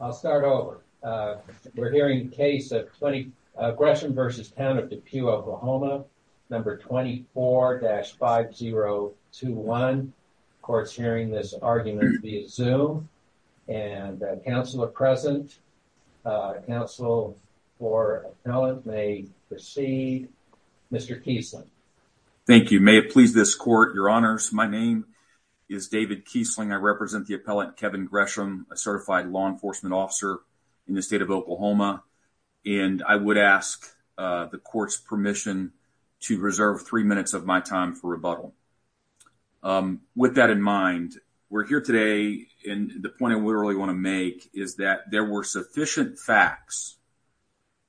I'll start over. We're hearing the case of Gresham v. Town of Depew, Oklahoma number 24-5021. The court's hearing this argument via Zoom and counsel are present. Counsel for the appellant may proceed. Mr. Kiesling. Thank you. May it please this court, Your Honors. My name is David Kiesling. I represent the appellant Kevin Gresham, a certified law enforcement officer in the state of Oklahoma, and I would ask the court's permission to reserve three minutes of my time for rebuttal. With that in mind, we're here today and the point I really want to make is that there were sufficient facts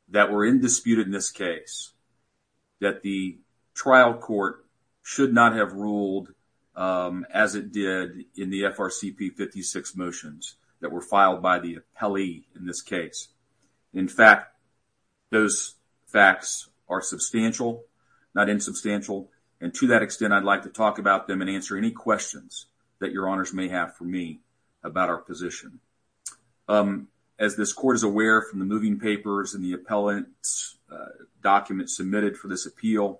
that were in disputed in this case that the trial court should not have ruled as it did in the FRCP 56 motions that were filed by the appellee in this case. In fact, those facts are substantial, not insubstantial, and to that extent I'd like to talk about them and answer any questions that Your Honors may have for me about our position. As this court is aware from the moving papers and the appellant's document submitted for this appeal,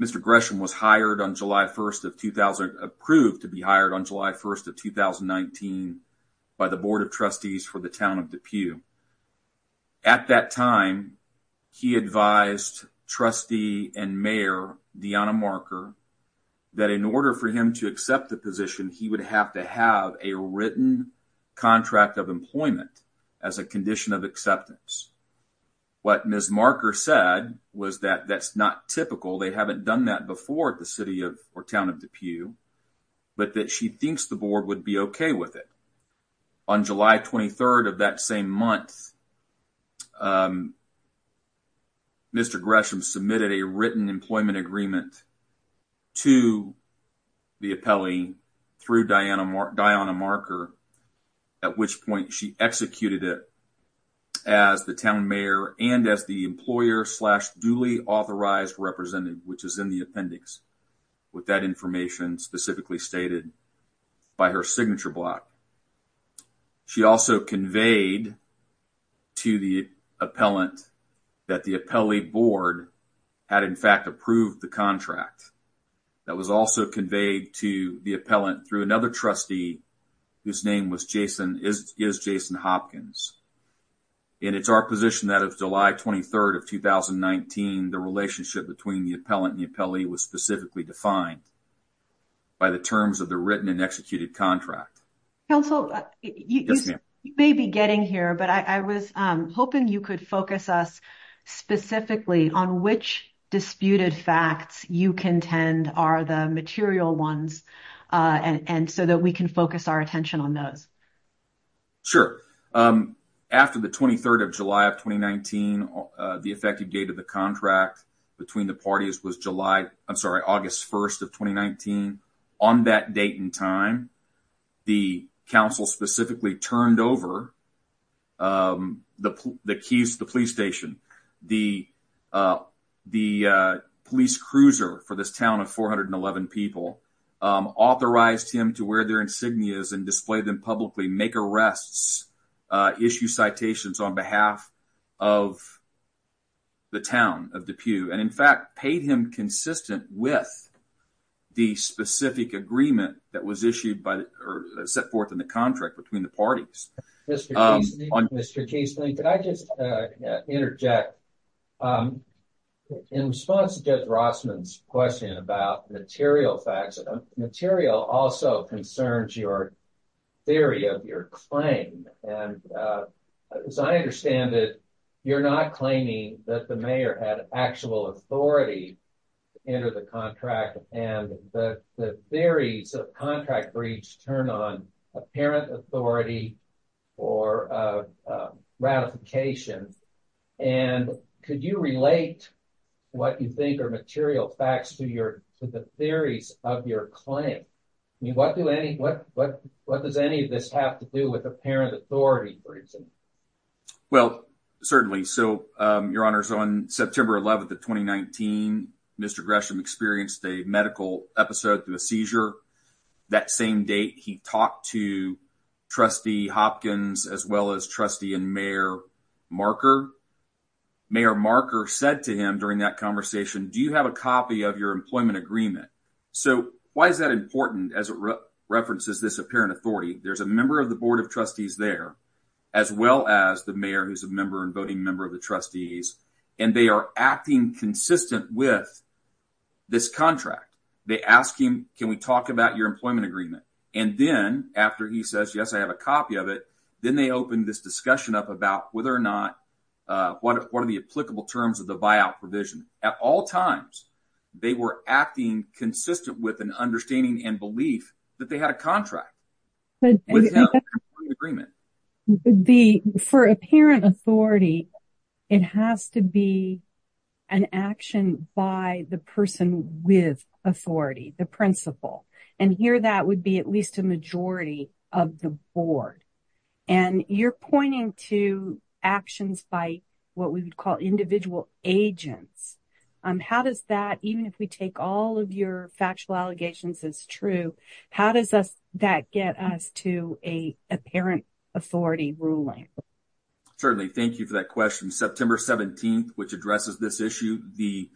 Mr. Gresham was hired on July 1st of 2000, approved to be hired on July 1st of 2019 by the Board of Trustees for the town of DePue. At that time, he advised trustee and mayor Deanna Marker that in order for him to accept the position, he would have to have a written contract of employment as a condition of acceptance. What Ms. Marker said was that that's not typical. They haven't done that before at the city of or town of DePue, but that she thinks the board would be okay with it. On July 23rd of that same month, Mr. Gresham submitted a written employment agreement to the appellee through Deanna Marker, at which point she executed it as the town mayor and as the employer slash duly authorized representative, which is in the appendix with that information specifically stated by her signature block. She also conveyed to the appellant that the appellee board had in fact approved the contract. That was also conveyed to the appellant through another trustee whose name is Jason Hopkins. It's our position that of July 23rd of 2019, the relationship between the appellant and the appellee was specifically defined by the terms of the written and executed contract. You may be getting here, but I was hoping you could focus us specifically on which disputed facts you contend are the material ones and so that we can focus our attention on those. Sure. After the 23rd of July of 2019, the effective date of the contract between the parties was July, I'm sorry, August 1st of 2019. On that date and time, the council specifically turned over the keys to the police station. The police cruiser for this town of 411 people authorized him to wear their insignias and display them publicly, make arrests, issue citations on behalf of the town of Depew, and in fact paid him consistent with the specific agreement that was issued by or set forth in the contract between the parties. Mr. Casely, could I just interject in response to Judge Rossman's question about material facts, material also concerns your theory of your claim and as I understand it, you're not claiming that the mayor had actual authority to enter the contract and the theories of contract breach turn on apparent authority or ratification. And could you relate what you think are material facts to the theories of your claim? I mean, what does any of this have to do with apparent authority, for instance? Well, certainly. So, Your Honor, so on September 11th of 2019, Mr. Gresham experienced a medical episode through a seizure. That same date, he talked to Trustee Hopkins as well as Trustee and Mayor Marker. Mayor Marker said to him during that conversation, do you have a copy of your employment agreement? So, why is that important as it references this apparent authority? There's a member of the Board of Trustees there, as well as the mayor who's a member and voting member of the trustees, and they are acting consistent with this contract. They ask him, can we talk about your employment agreement? And then, after he says, yes, I have a copy of it, then they open this discussion up about whether or not, what are the applicable terms of the buyout provision? At all times, they were acting consistent with an understanding and belief that they had a contract. For apparent authority, it has to be an action by the person with authority, the principal. And here, that would be at least a majority of the board. And you're pointing to actions by what we would call individual agents. How does that, even if we take all of your factual allegations as true, how does that get us to a apparent authority ruling? Certainly, thank you for that question. September 17th, which addresses this issue, the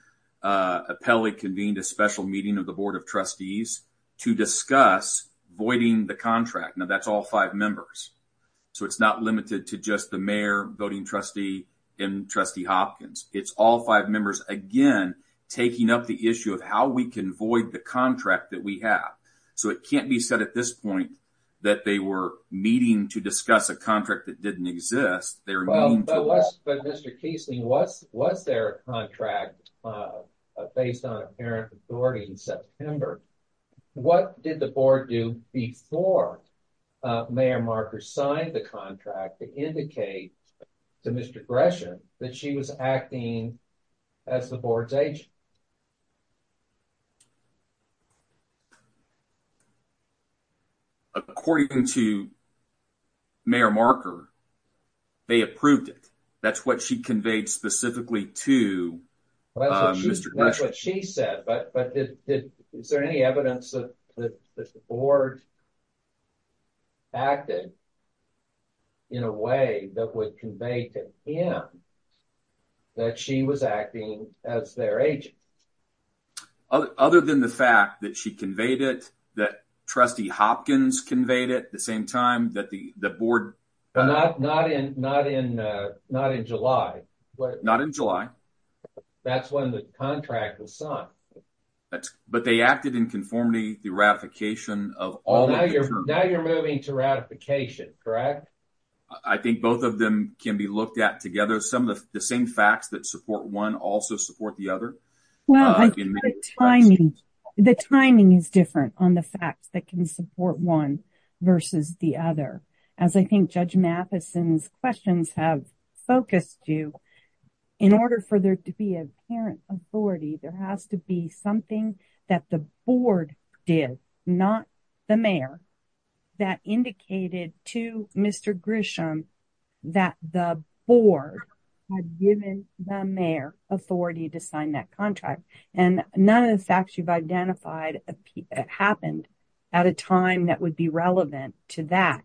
appellee convened a special meeting of the Board of Trustees to discuss voiding the contract. Now, that's all five members. So, it's not limited to just the mayor, voting trustee, and trustee Hopkins. It's all five members, again, taking up the issue of how we can void the contract that we have. So, it can't be said at this point that they were meeting to discuss a contract that didn't exist. They were meeting to... But, Mr. Kiesling, was there a contract based on apparent authority in September? What did the board do before Mayor Markers signed the contract to indicate to Mr. Gresham that she was acting as the board's agent? According to Mayor Marker, they approved it. That's what she conveyed specifically to Mr. Gresham. That's what she said. But, is there any evidence that the board acted in a way that would convey to him that she was acting as their agent? Other than the fact that she conveyed it, that trustee Hopkins conveyed it, at the same time that the board... But, not in July. Not in July. That's when the contract was signed. But, they acted in conformity the ratification of all... Now, you're moving to ratification, correct? I think both of them can be looked at together. Some of the same facts that support one also support the other. Well, the timing is different on the facts that can support one versus the other. As I think Judge Matheson's questions have focused you, in order for there to be an apparent authority, there has to be something that the board did, not the mayor, that indicated to Mr. Gresham that the board had given the mayor authority to sign that contract. And, none of the facts you've identified happened at a time that would be relevant to that.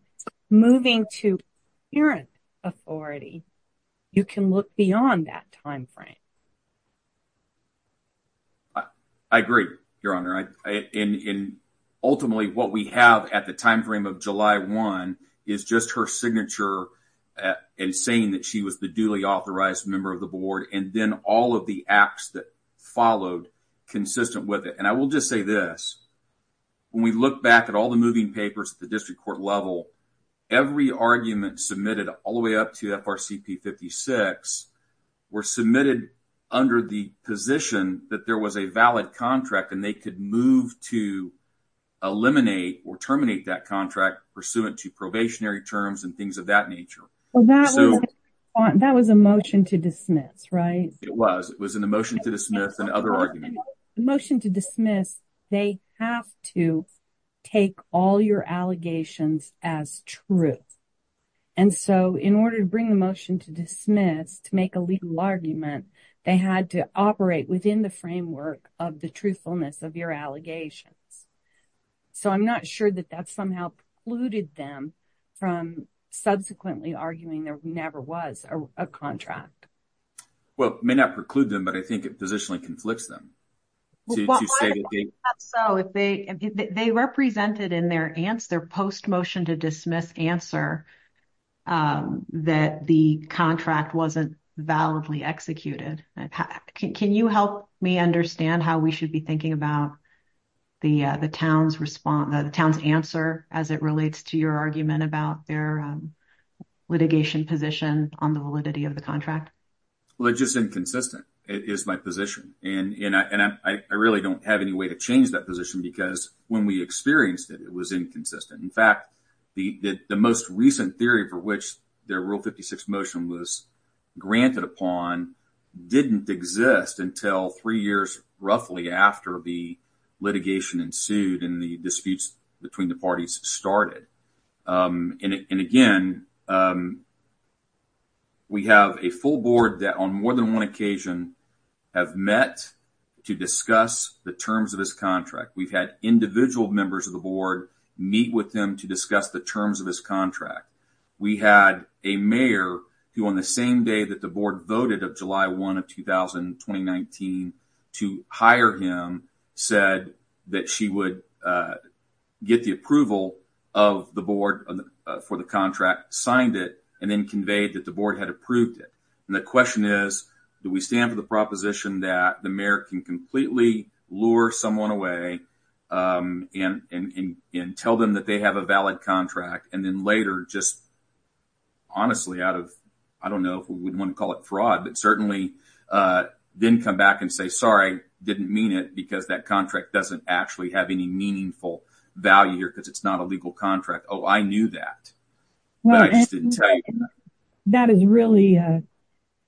Moving to apparent authority, you can look beyond that time frame. I agree, Your Honor. Ultimately, what we have at the time frame of July 1 is just her signature and saying that she was the duly authorized member of the board, and then all of the acts that followed consistent with it. And, I will just say this. When we look back at all the moving papers at the district court level, every argument submitted all the way up to FRCP 56 were submitted under the position that there was a valid contract and they could move to eliminate or terminate that contract pursuant to probationary terms and things of that nature. Well, that was a motion to dismiss, right? It was. It was a motion to dismiss and other arguments. Motion to dismiss, they have to take all your allegations as truth. And so, in order to bring the motion to dismiss, to make a legal argument, they had to operate within the framework of the truthfulness of your allegations. So, I'm not sure that that somehow precluded them from subsequently arguing there never was a contract. Well, it may not preclude them, but I think it positionally conflicts them. They represented in their post-motion to dismiss answer that the contract wasn't validly executed. Can you help me understand how we should be thinking about the town's answer as it relates to your argument about their litigation position on the validity of the contract? Well, it's just inconsistent is my position. And I really don't have any way to change that position because when we experienced it, it was inconsistent. In fact, the most recent theory for which their Rule 56 motion was granted upon didn't exist until three years roughly after the litigation ensued and the disputes between the parties started. And again, we have a full board that on more than one occasion have met to discuss the terms of this contract. We've had individual members of the board meet with them to discuss the terms of this contract. We had a mayor who on the same day that the board voted of July 1 of 2019 to hire him said that she would get the approval of the board for the contract, signed it, and then conveyed that the board had approved it. And the question is, do we stand for the proposition that the mayor can completely lure someone away and tell them that they have a valid contract and then later just honestly out of, I don't know if we would want to call it fraud, but certainly then come back and say, sorry, didn't mean it because that contract doesn't actually have any meaningful value here because it's not a legal contract. Oh, I knew that. That is really a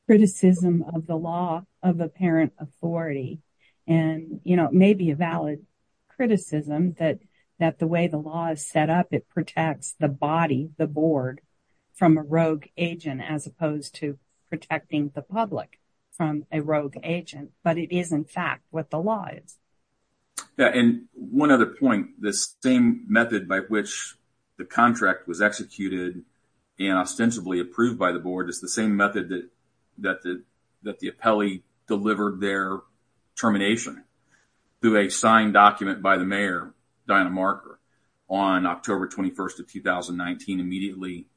criticism of the law of apparent authority. And, you know, it may be a valid criticism that the way the law is set up, it protects the body, the board from a rogue agent as opposed to protecting the public from a rogue agent. But it is in fact what the law is. Yeah. And one other point, this same method by which the contract was executed and ostensibly approved by the board is the same method that the appellee delivered their termination through a signed document by the mayor, Diana Marker, on October 21st of 2019 immediately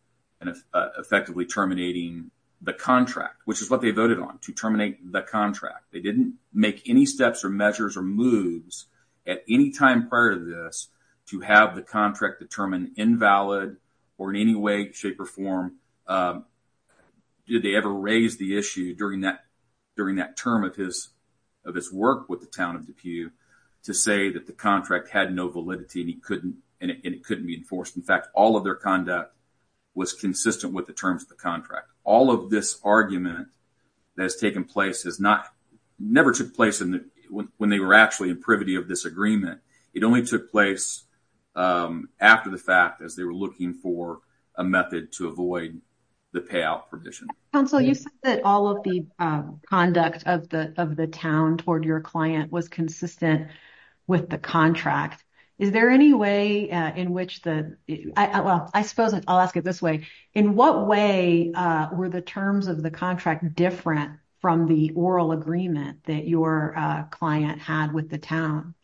and effectively terminating the contract, which is what they voted on, to terminate the contract. They didn't make any steps or measures or moves at any time prior to this to have the contract determined invalid or in any way, shape or form. Did they ever raise the issue during that term of his work with the town of Depew to say that the contract had no validity and it couldn't be enforced? In fact, all of their conduct was consistent with the terms of the contract. All of this argument that has taken place has never took place when they were actually in privity of this agreement. It only took place after the fact as they were looking for a method to avoid the payout provision. Council, you said that all of the conduct of the town toward your client was consistent with the contract. Is there any way in which the, well, I suppose I'll ask it this way. In what way were the terms of the contract different from the oral agreement that your client had with the town?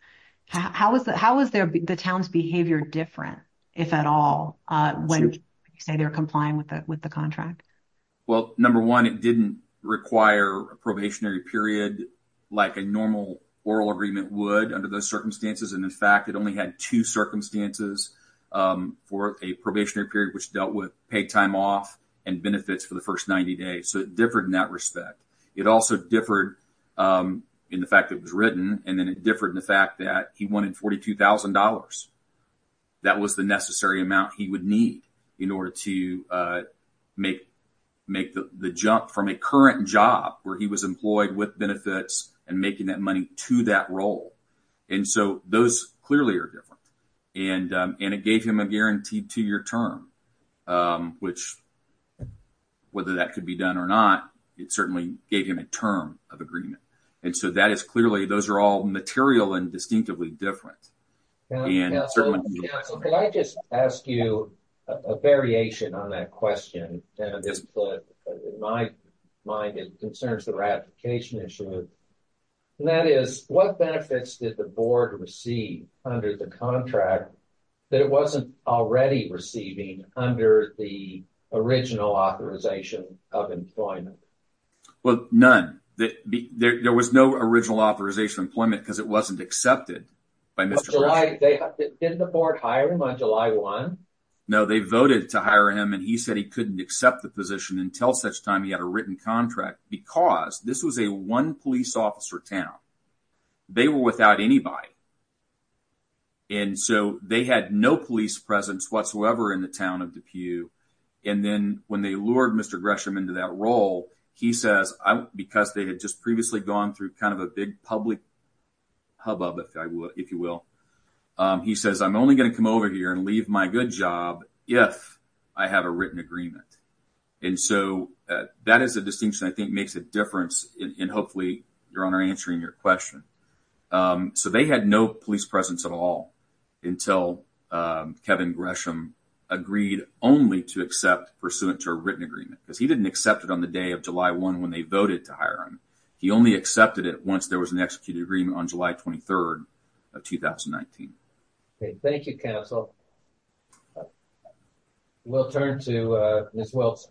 How was the town's behavior different, if at all, when you say they're complying with the contract? Well, number one, it didn't require a probationary period like a normal oral agreement would under those circumstances. And in fact, it only had two circumstances for a probationary period, which dealt with paid time off and benefits for the first 90 days. So it differed in that respect. It also differed in the fact that it was written and then it differed in the fact that he wanted $42,000. That was the necessary amount he would need in order to make the jump from a current job where he was employed with benefits and making that money to that role. And so those clearly are different. And it gave him a guaranteed two-year term, which whether that could be done or not, it certainly gave him a term of agreement. And so that is clearly, those are all material and distinctively different. Now, counsel, could I just ask you a variation on that question? In my mind, it concerns the ratification issue. And that is, what benefits did the board receive under the contract that it wasn't already receiving under the original authorization of employment? Well, none. There was no original authorization of employment because it wasn't accepted by Mr. Gresham. Didn't the board hire him on July 1? No, they voted to hire him. And he said he couldn't accept the position until such time he had a written contract because this was a one police officer town. They were without anybody. And so they had no police presence whatsoever in the town of DePue. And then when they lured Mr. Gresham into that role, he says, because they had just previously gone through kind of a big public hubbub, if you will, he says, I'm only going to come over here and leave my good job if I have a written agreement. And so that is a distinction I think makes a difference in hopefully your honor answering your question. So they had no police presence at all until Kevin Gresham agreed only to accept pursuant to a written agreement because he didn't accept it on the agreement on July 23rd of 2019. Okay, thank you, counsel. We'll turn to Ms. Wilson.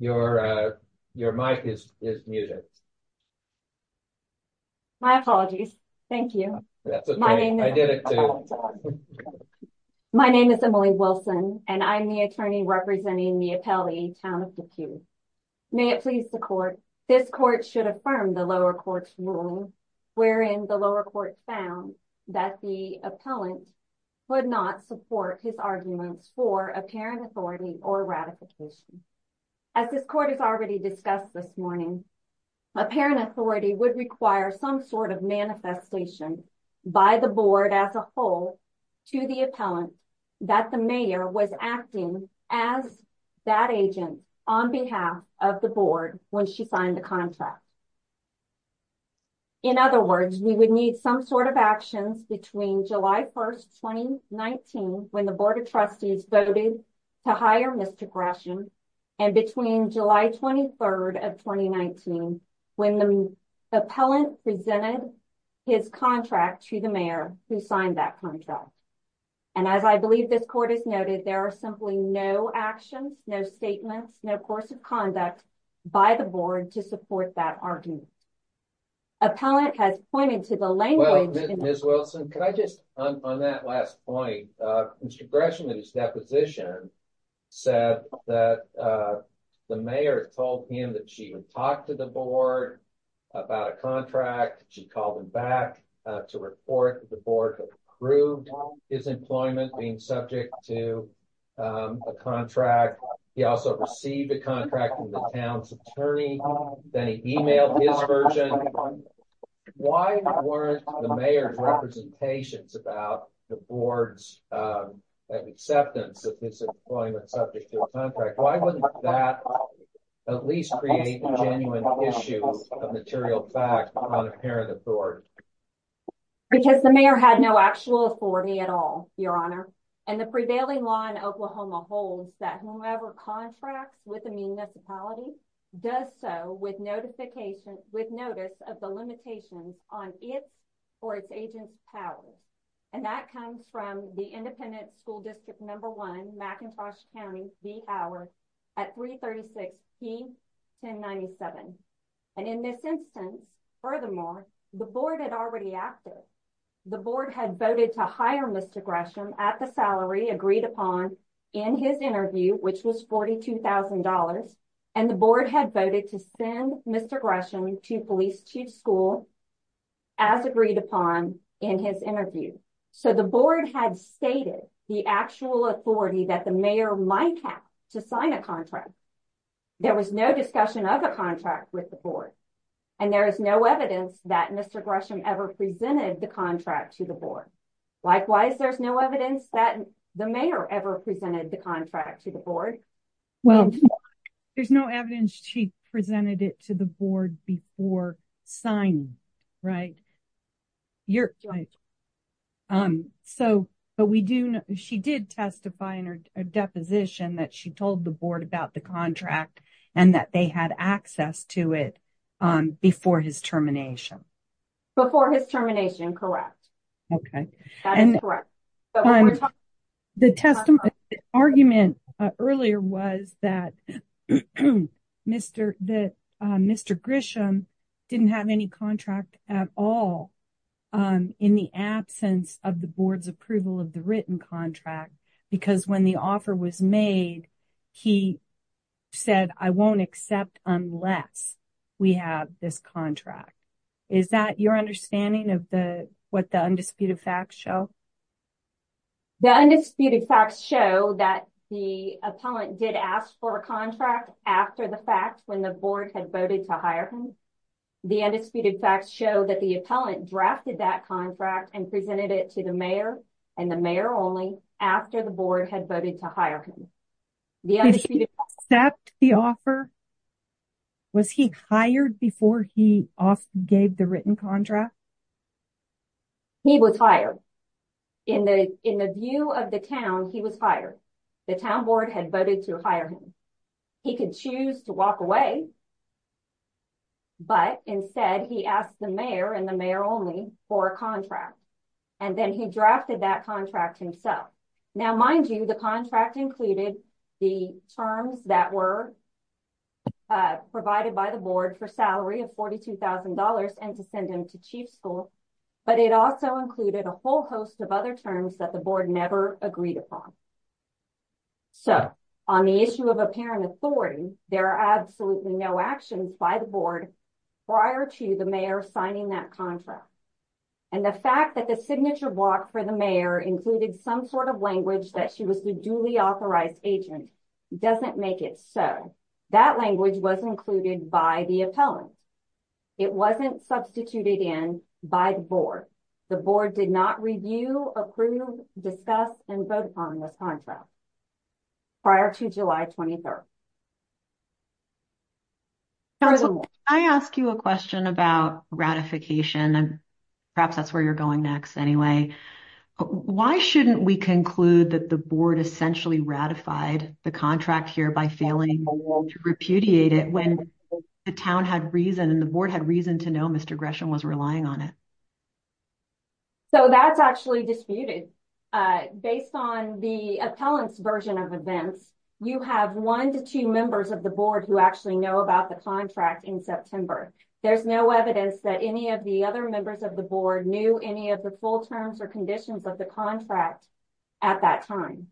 Your mic is muted. My apologies. Thank you. My name is Emily Wilson, and I'm the attorney representing Mia Pelle, town of DePue. May it please the court, this court should affirm the lower court's ruling, wherein the lower court found that the appellant would not support his arguments for apparent authority or ratification. As this court has already discussed this morning, apparent authority would require some sort of manifestation by the board as a whole to the appellant that the mayor was acting as that agent on behalf of the board when she signed the contract. In other words, we would need some sort of actions between July 1st, 2019, when the board of trustees voted to hire Mr. Gresham, and between July 23rd of 2019, when the appellant presented his contract to the mayor who signed that contract. And as I believe this court has noted, there are simply no actions, no statements, no course of conduct by the board to support that argument. Appellant has pointed to the language... Well, Ms. Wilson, could I just, on that last point, Mr. Gresham in his deposition said that the mayor told him that she would talk to the board about a contract. She called him back to report that the board approved his employment being subject to a contract. He also received a contract from the town's attorney. Then he emailed his version. Why weren't the mayor's representations about the board's acceptance of his employment subject to a contract? Why wouldn't that at least create a genuine issue of material fact on apparent authority? Because the mayor had no actual authority at all, Your Honor. And the prevailing law in Oklahoma holds that whomever contracts with a municipality does so with notification, with notice of the limitations on its or its agent's power. And that comes from the Independent School District No. 1, McIntosh County, the hour at 336 P 1097. And in this instance, furthermore, the board had already acted. The board had voted to hire Mr. Gresham at the salary agreed upon in his interview, which was $42,000. And the board had voted to send Mr. Gresham to police chief school as agreed upon in his interview. So the board had stated the actual authority that the mayor might have to sign a contract. There was no discussion of a contract with the board. And there is no evidence that Mr. Gresham ever presented the contract to the board. Likewise, there's no evidence that the mayor ever presented the contract to the board. Well, there's no evidence she presented it to the board before signing, right? So, but we do know she did testify in her deposition that she told the board about the contract and that they had access to it before his termination. Before his termination. Correct. Okay. And the argument earlier was that Mr. Gresham didn't have any contract at all in the absence of the board's approval of the written contract, because when the offer was made, he said, I won't accept unless we have this contract. Is that your understanding of the, what the undisputed facts show? The undisputed facts show that the appellant did ask for a contract after the fact when the board had voted to hire him. The undisputed facts show that the appellant drafted that contract and presented it to the mayor and the mayor only after the board had voted to hire him. Did he accept the offer? Was he hired before he gave the written contract? He was hired in the, in the view of the town, he was hired. The town board had voted to hire him. He could choose to walk away, but instead he asked the mayor and the mayor only for a contract. And then he drafted that contract himself. Now, mind you, the contract included the terms that were provided by the board for salary of $42,000 and to send him to chief school, but it also included a whole host of other terms that the board never agreed upon. So on the issue of apparent authority, there are absolutely no actions by the board prior to the mayor signing that contract. And the fact that the signature block for the mayor included some sort of language that she was the duly authorized agent doesn't make it so. That language was included by the appellant. It wasn't substituted in by the board. The board did not review, approve, discuss, and vote on this contract prior to July 23rd. Can I ask you a question about ratification and perhaps that's where you're going next anyway. Why shouldn't we conclude that the board essentially ratified the contract here by failing to repudiate it when the town had reason and the board had reason to know Mr. Gresham was relying on it? So that's actually disputed. Based on the appellant's version of events, you have one to two members of the board who actually know about the contract in September. There's no evidence that any of the other members of the board knew any of the full terms or conditions of the contract at that time.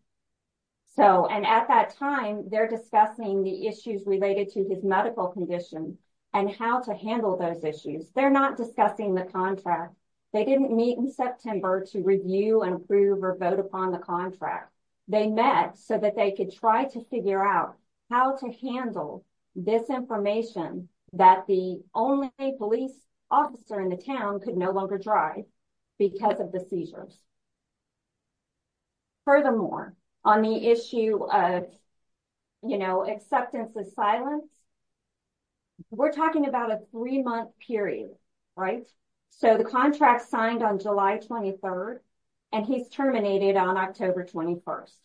So and at that time, they're discussing the issues related to his medical condition and how to handle those issues. They're not discussing the contract. They didn't meet in September to review and approve or vote upon the contract. They met so that they could try to figure out how to handle this information that the only police officer in the town could no longer drive because of the seizures. Furthermore, on the issue of, you know, acceptance of silence, we're talking about a three-month period, right? So the contract signed on July 23rd and he's terminated on October 21st.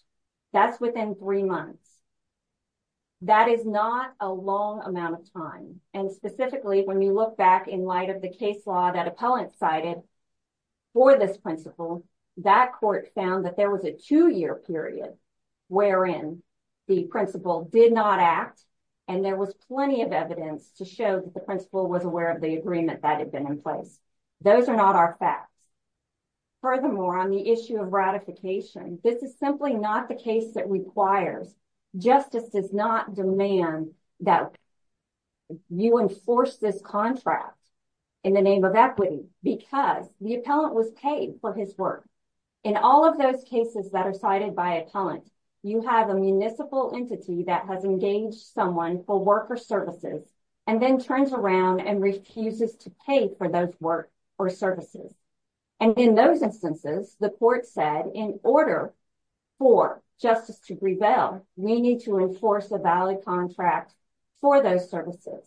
That's within three months. That is not a long amount of time and specifically when you look back in light of the case law that appellant cited for this principle, that court found that there was a two-year period wherein the principle did not act and there was plenty of evidence to show that the principle was aware of the agreement that had been in place. Those are not our facts. Furthermore, on the issue of ratification, this is simply not the case that requires. Justice does not demand that you enforce this contract in the name of equity because the appellant was paid for his work. In all of those cases that are cited by appellant, you have a municipal entity that has engaged someone for worker services and then turns around and refuses to pay for those work or services. And in those instances, the court said in order for justice to prevail, we need to enforce a valid contract for those services.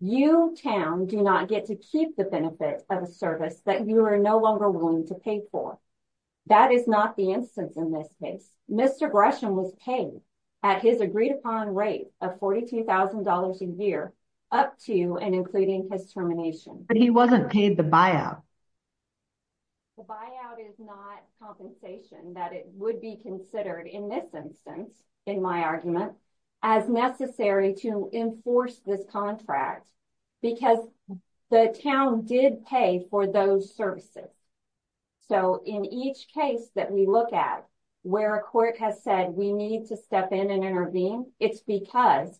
You, town, do not get to keep the benefits of a service that you are no longer willing to pay for. That is not the instance in this case. Mr. Gresham was paid at his agreed-upon rate of $42,000 a year up to and including his termination. But he wasn't paid the buyout. The buyout is not compensation that it would be considered in this instance, in my argument, as necessary to enforce this contract because the town did pay for those services. So, in each case that we look at where a court has said we need to step in and intervene, it's because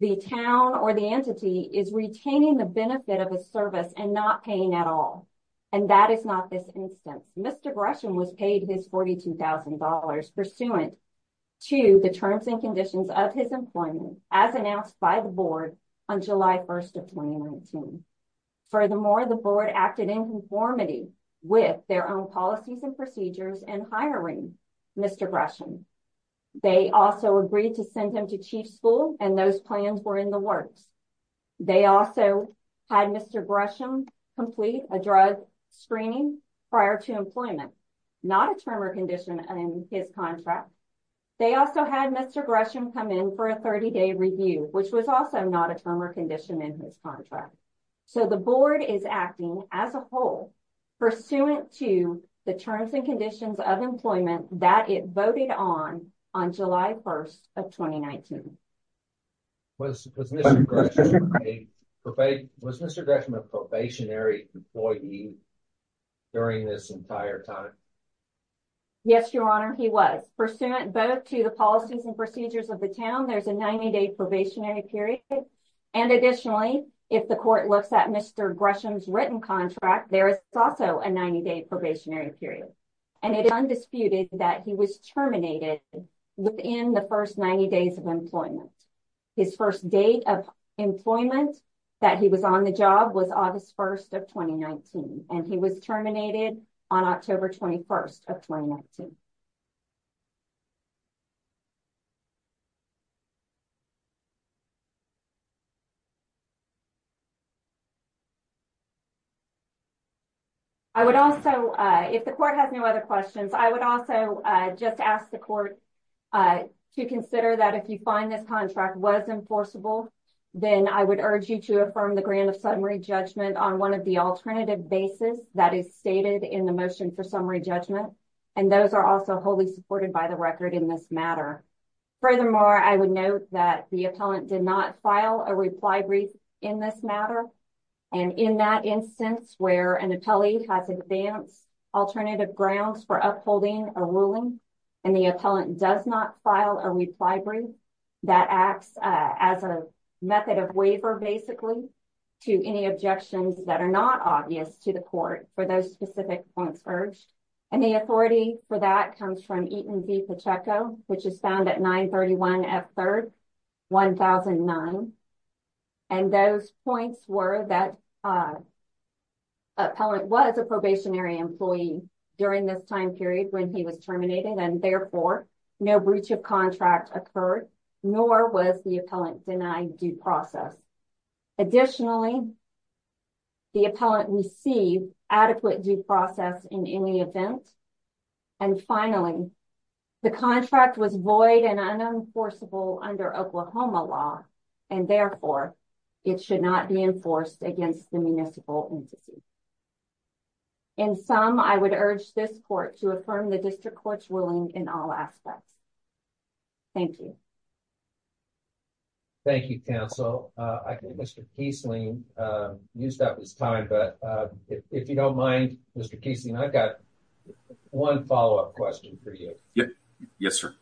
the town or the entity is retaining the benefit of a service and not paying at all. And that is not this instance. Mr. Gresham was paid his $42,000 pursuant to the terms and conditions of his employment as announced by the board on July 1st of 2019. Furthermore, the board acted in conformity with their own policies and procedures in hiring Mr. Gresham. They also agreed to send him to chief school and those plans were in the works. They also had Mr. Gresham complete a drug screening prior to employment, not a term or condition in his contract. They also had Mr. Gresham come in for a 30-day review, which was also not a term or condition in his contract. So, the board is acting as a whole pursuant to the terms and conditions of employment that it voted on on July 1st of 2019. Was Mr. Gresham a probationary employee during this entire time? Yes, Your Honor, he was. Pursuant both to the policies and procedures of the town, there's a 90-day probationary period. And additionally, if the court looks at Mr. Gresham's written contract, there is also a 90-day probationary period. And it is undisputed that he was terminated within the first 90 days of employment. His first date of employment that he was on the job was August 1st of 2019, and he was terminated on October 21st of 2019. If the court has no other questions, I would also just ask the court to consider that if you find this contract was enforceable, then I would urge you to affirm the grant of summary judgment on one of the alternative bases that is stated in the motion for summary judgment. And those are also wholly supported by the record in this matter. Furthermore, I would note that the appellant did file a reply brief in this matter. And in that instance where an appellee has advanced alternative grounds for upholding a ruling, and the appellant does not file a reply brief, that acts as a method of waiver, basically, to any objections that are not obvious to the court for those specific points urged. And the authority for that comes from Eaton v. Pacheco, which is 931 F. 3rd, 1009. And those points were that appellant was a probationary employee during this time period when he was terminated, and therefore, no breach of contract occurred, nor was the appellant denied due process. Additionally, the appellant received adequate due process in any event. And finally, the contract was void and unenforceable under Oklahoma law, and therefore, it should not be enforced against the municipal entity. In sum, I would urge this court to affirm the district court's ruling in all aspects. Thank you. Thank you, counsel. I think Mr. Kiesling used up his time, but if you don't mind, Mr. Kiesling, I've got one follow-up question for you. Yes, sir.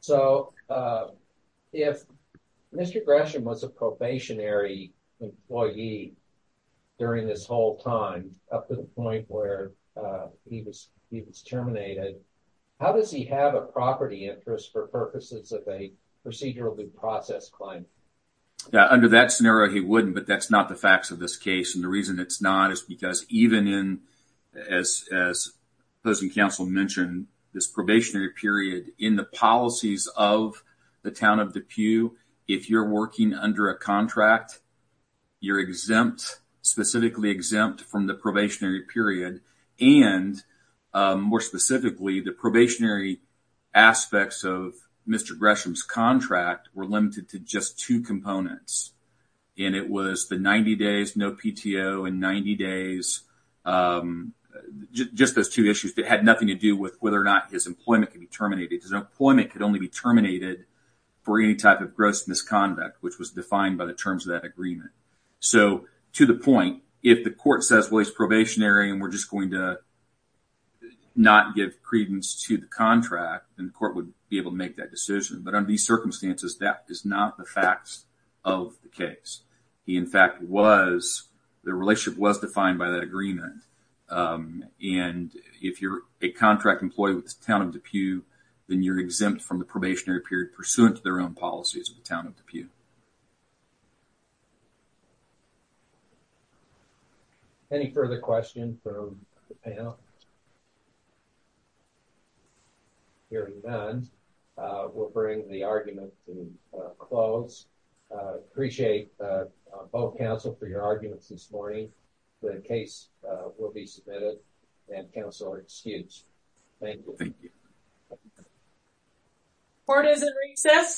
So, if Mr. Gresham was a probationary employee during this whole time, up to the point where he was terminated, how does he have a property interest for purposes of a procedural due process claim? Under that scenario, he wouldn't, but that's not the facts of this case. And the reason it's not is because even in, as opposing counsel mentioned, this probationary period in the policies of the town of DePue, if you're working under a contract, you're exempt, specifically exempt from the probationary period. And more specifically, the probationary aspects of Mr. Gresham's contract were limited to just two components. And it was the 90 days, no PTO, and 90 days, just those two issues that had nothing to do with whether or not his employment could be terminated. His employment could only be terminated for any type of gross misconduct, which was defined by the terms of that agreement. So, to the point, if the court says, well, he's probationary and we're just going to not give credence to the contract, then the court would be able to make that decision. But under these circumstances, that is not the facts of the case. He, in fact, was, the relationship was defined by that agreement. And if you're a contract employee with the town of DePue, then you're exempt from the probationary period pursuant to their own policies of the town of DePue. Any further questions from the panel? Hearing none, we'll bring the argument to a close. Appreciate both counsel for your arguments this morning. The case will be submitted and counsel are excused. Thank you. Court is in recess. Subject to adjournment.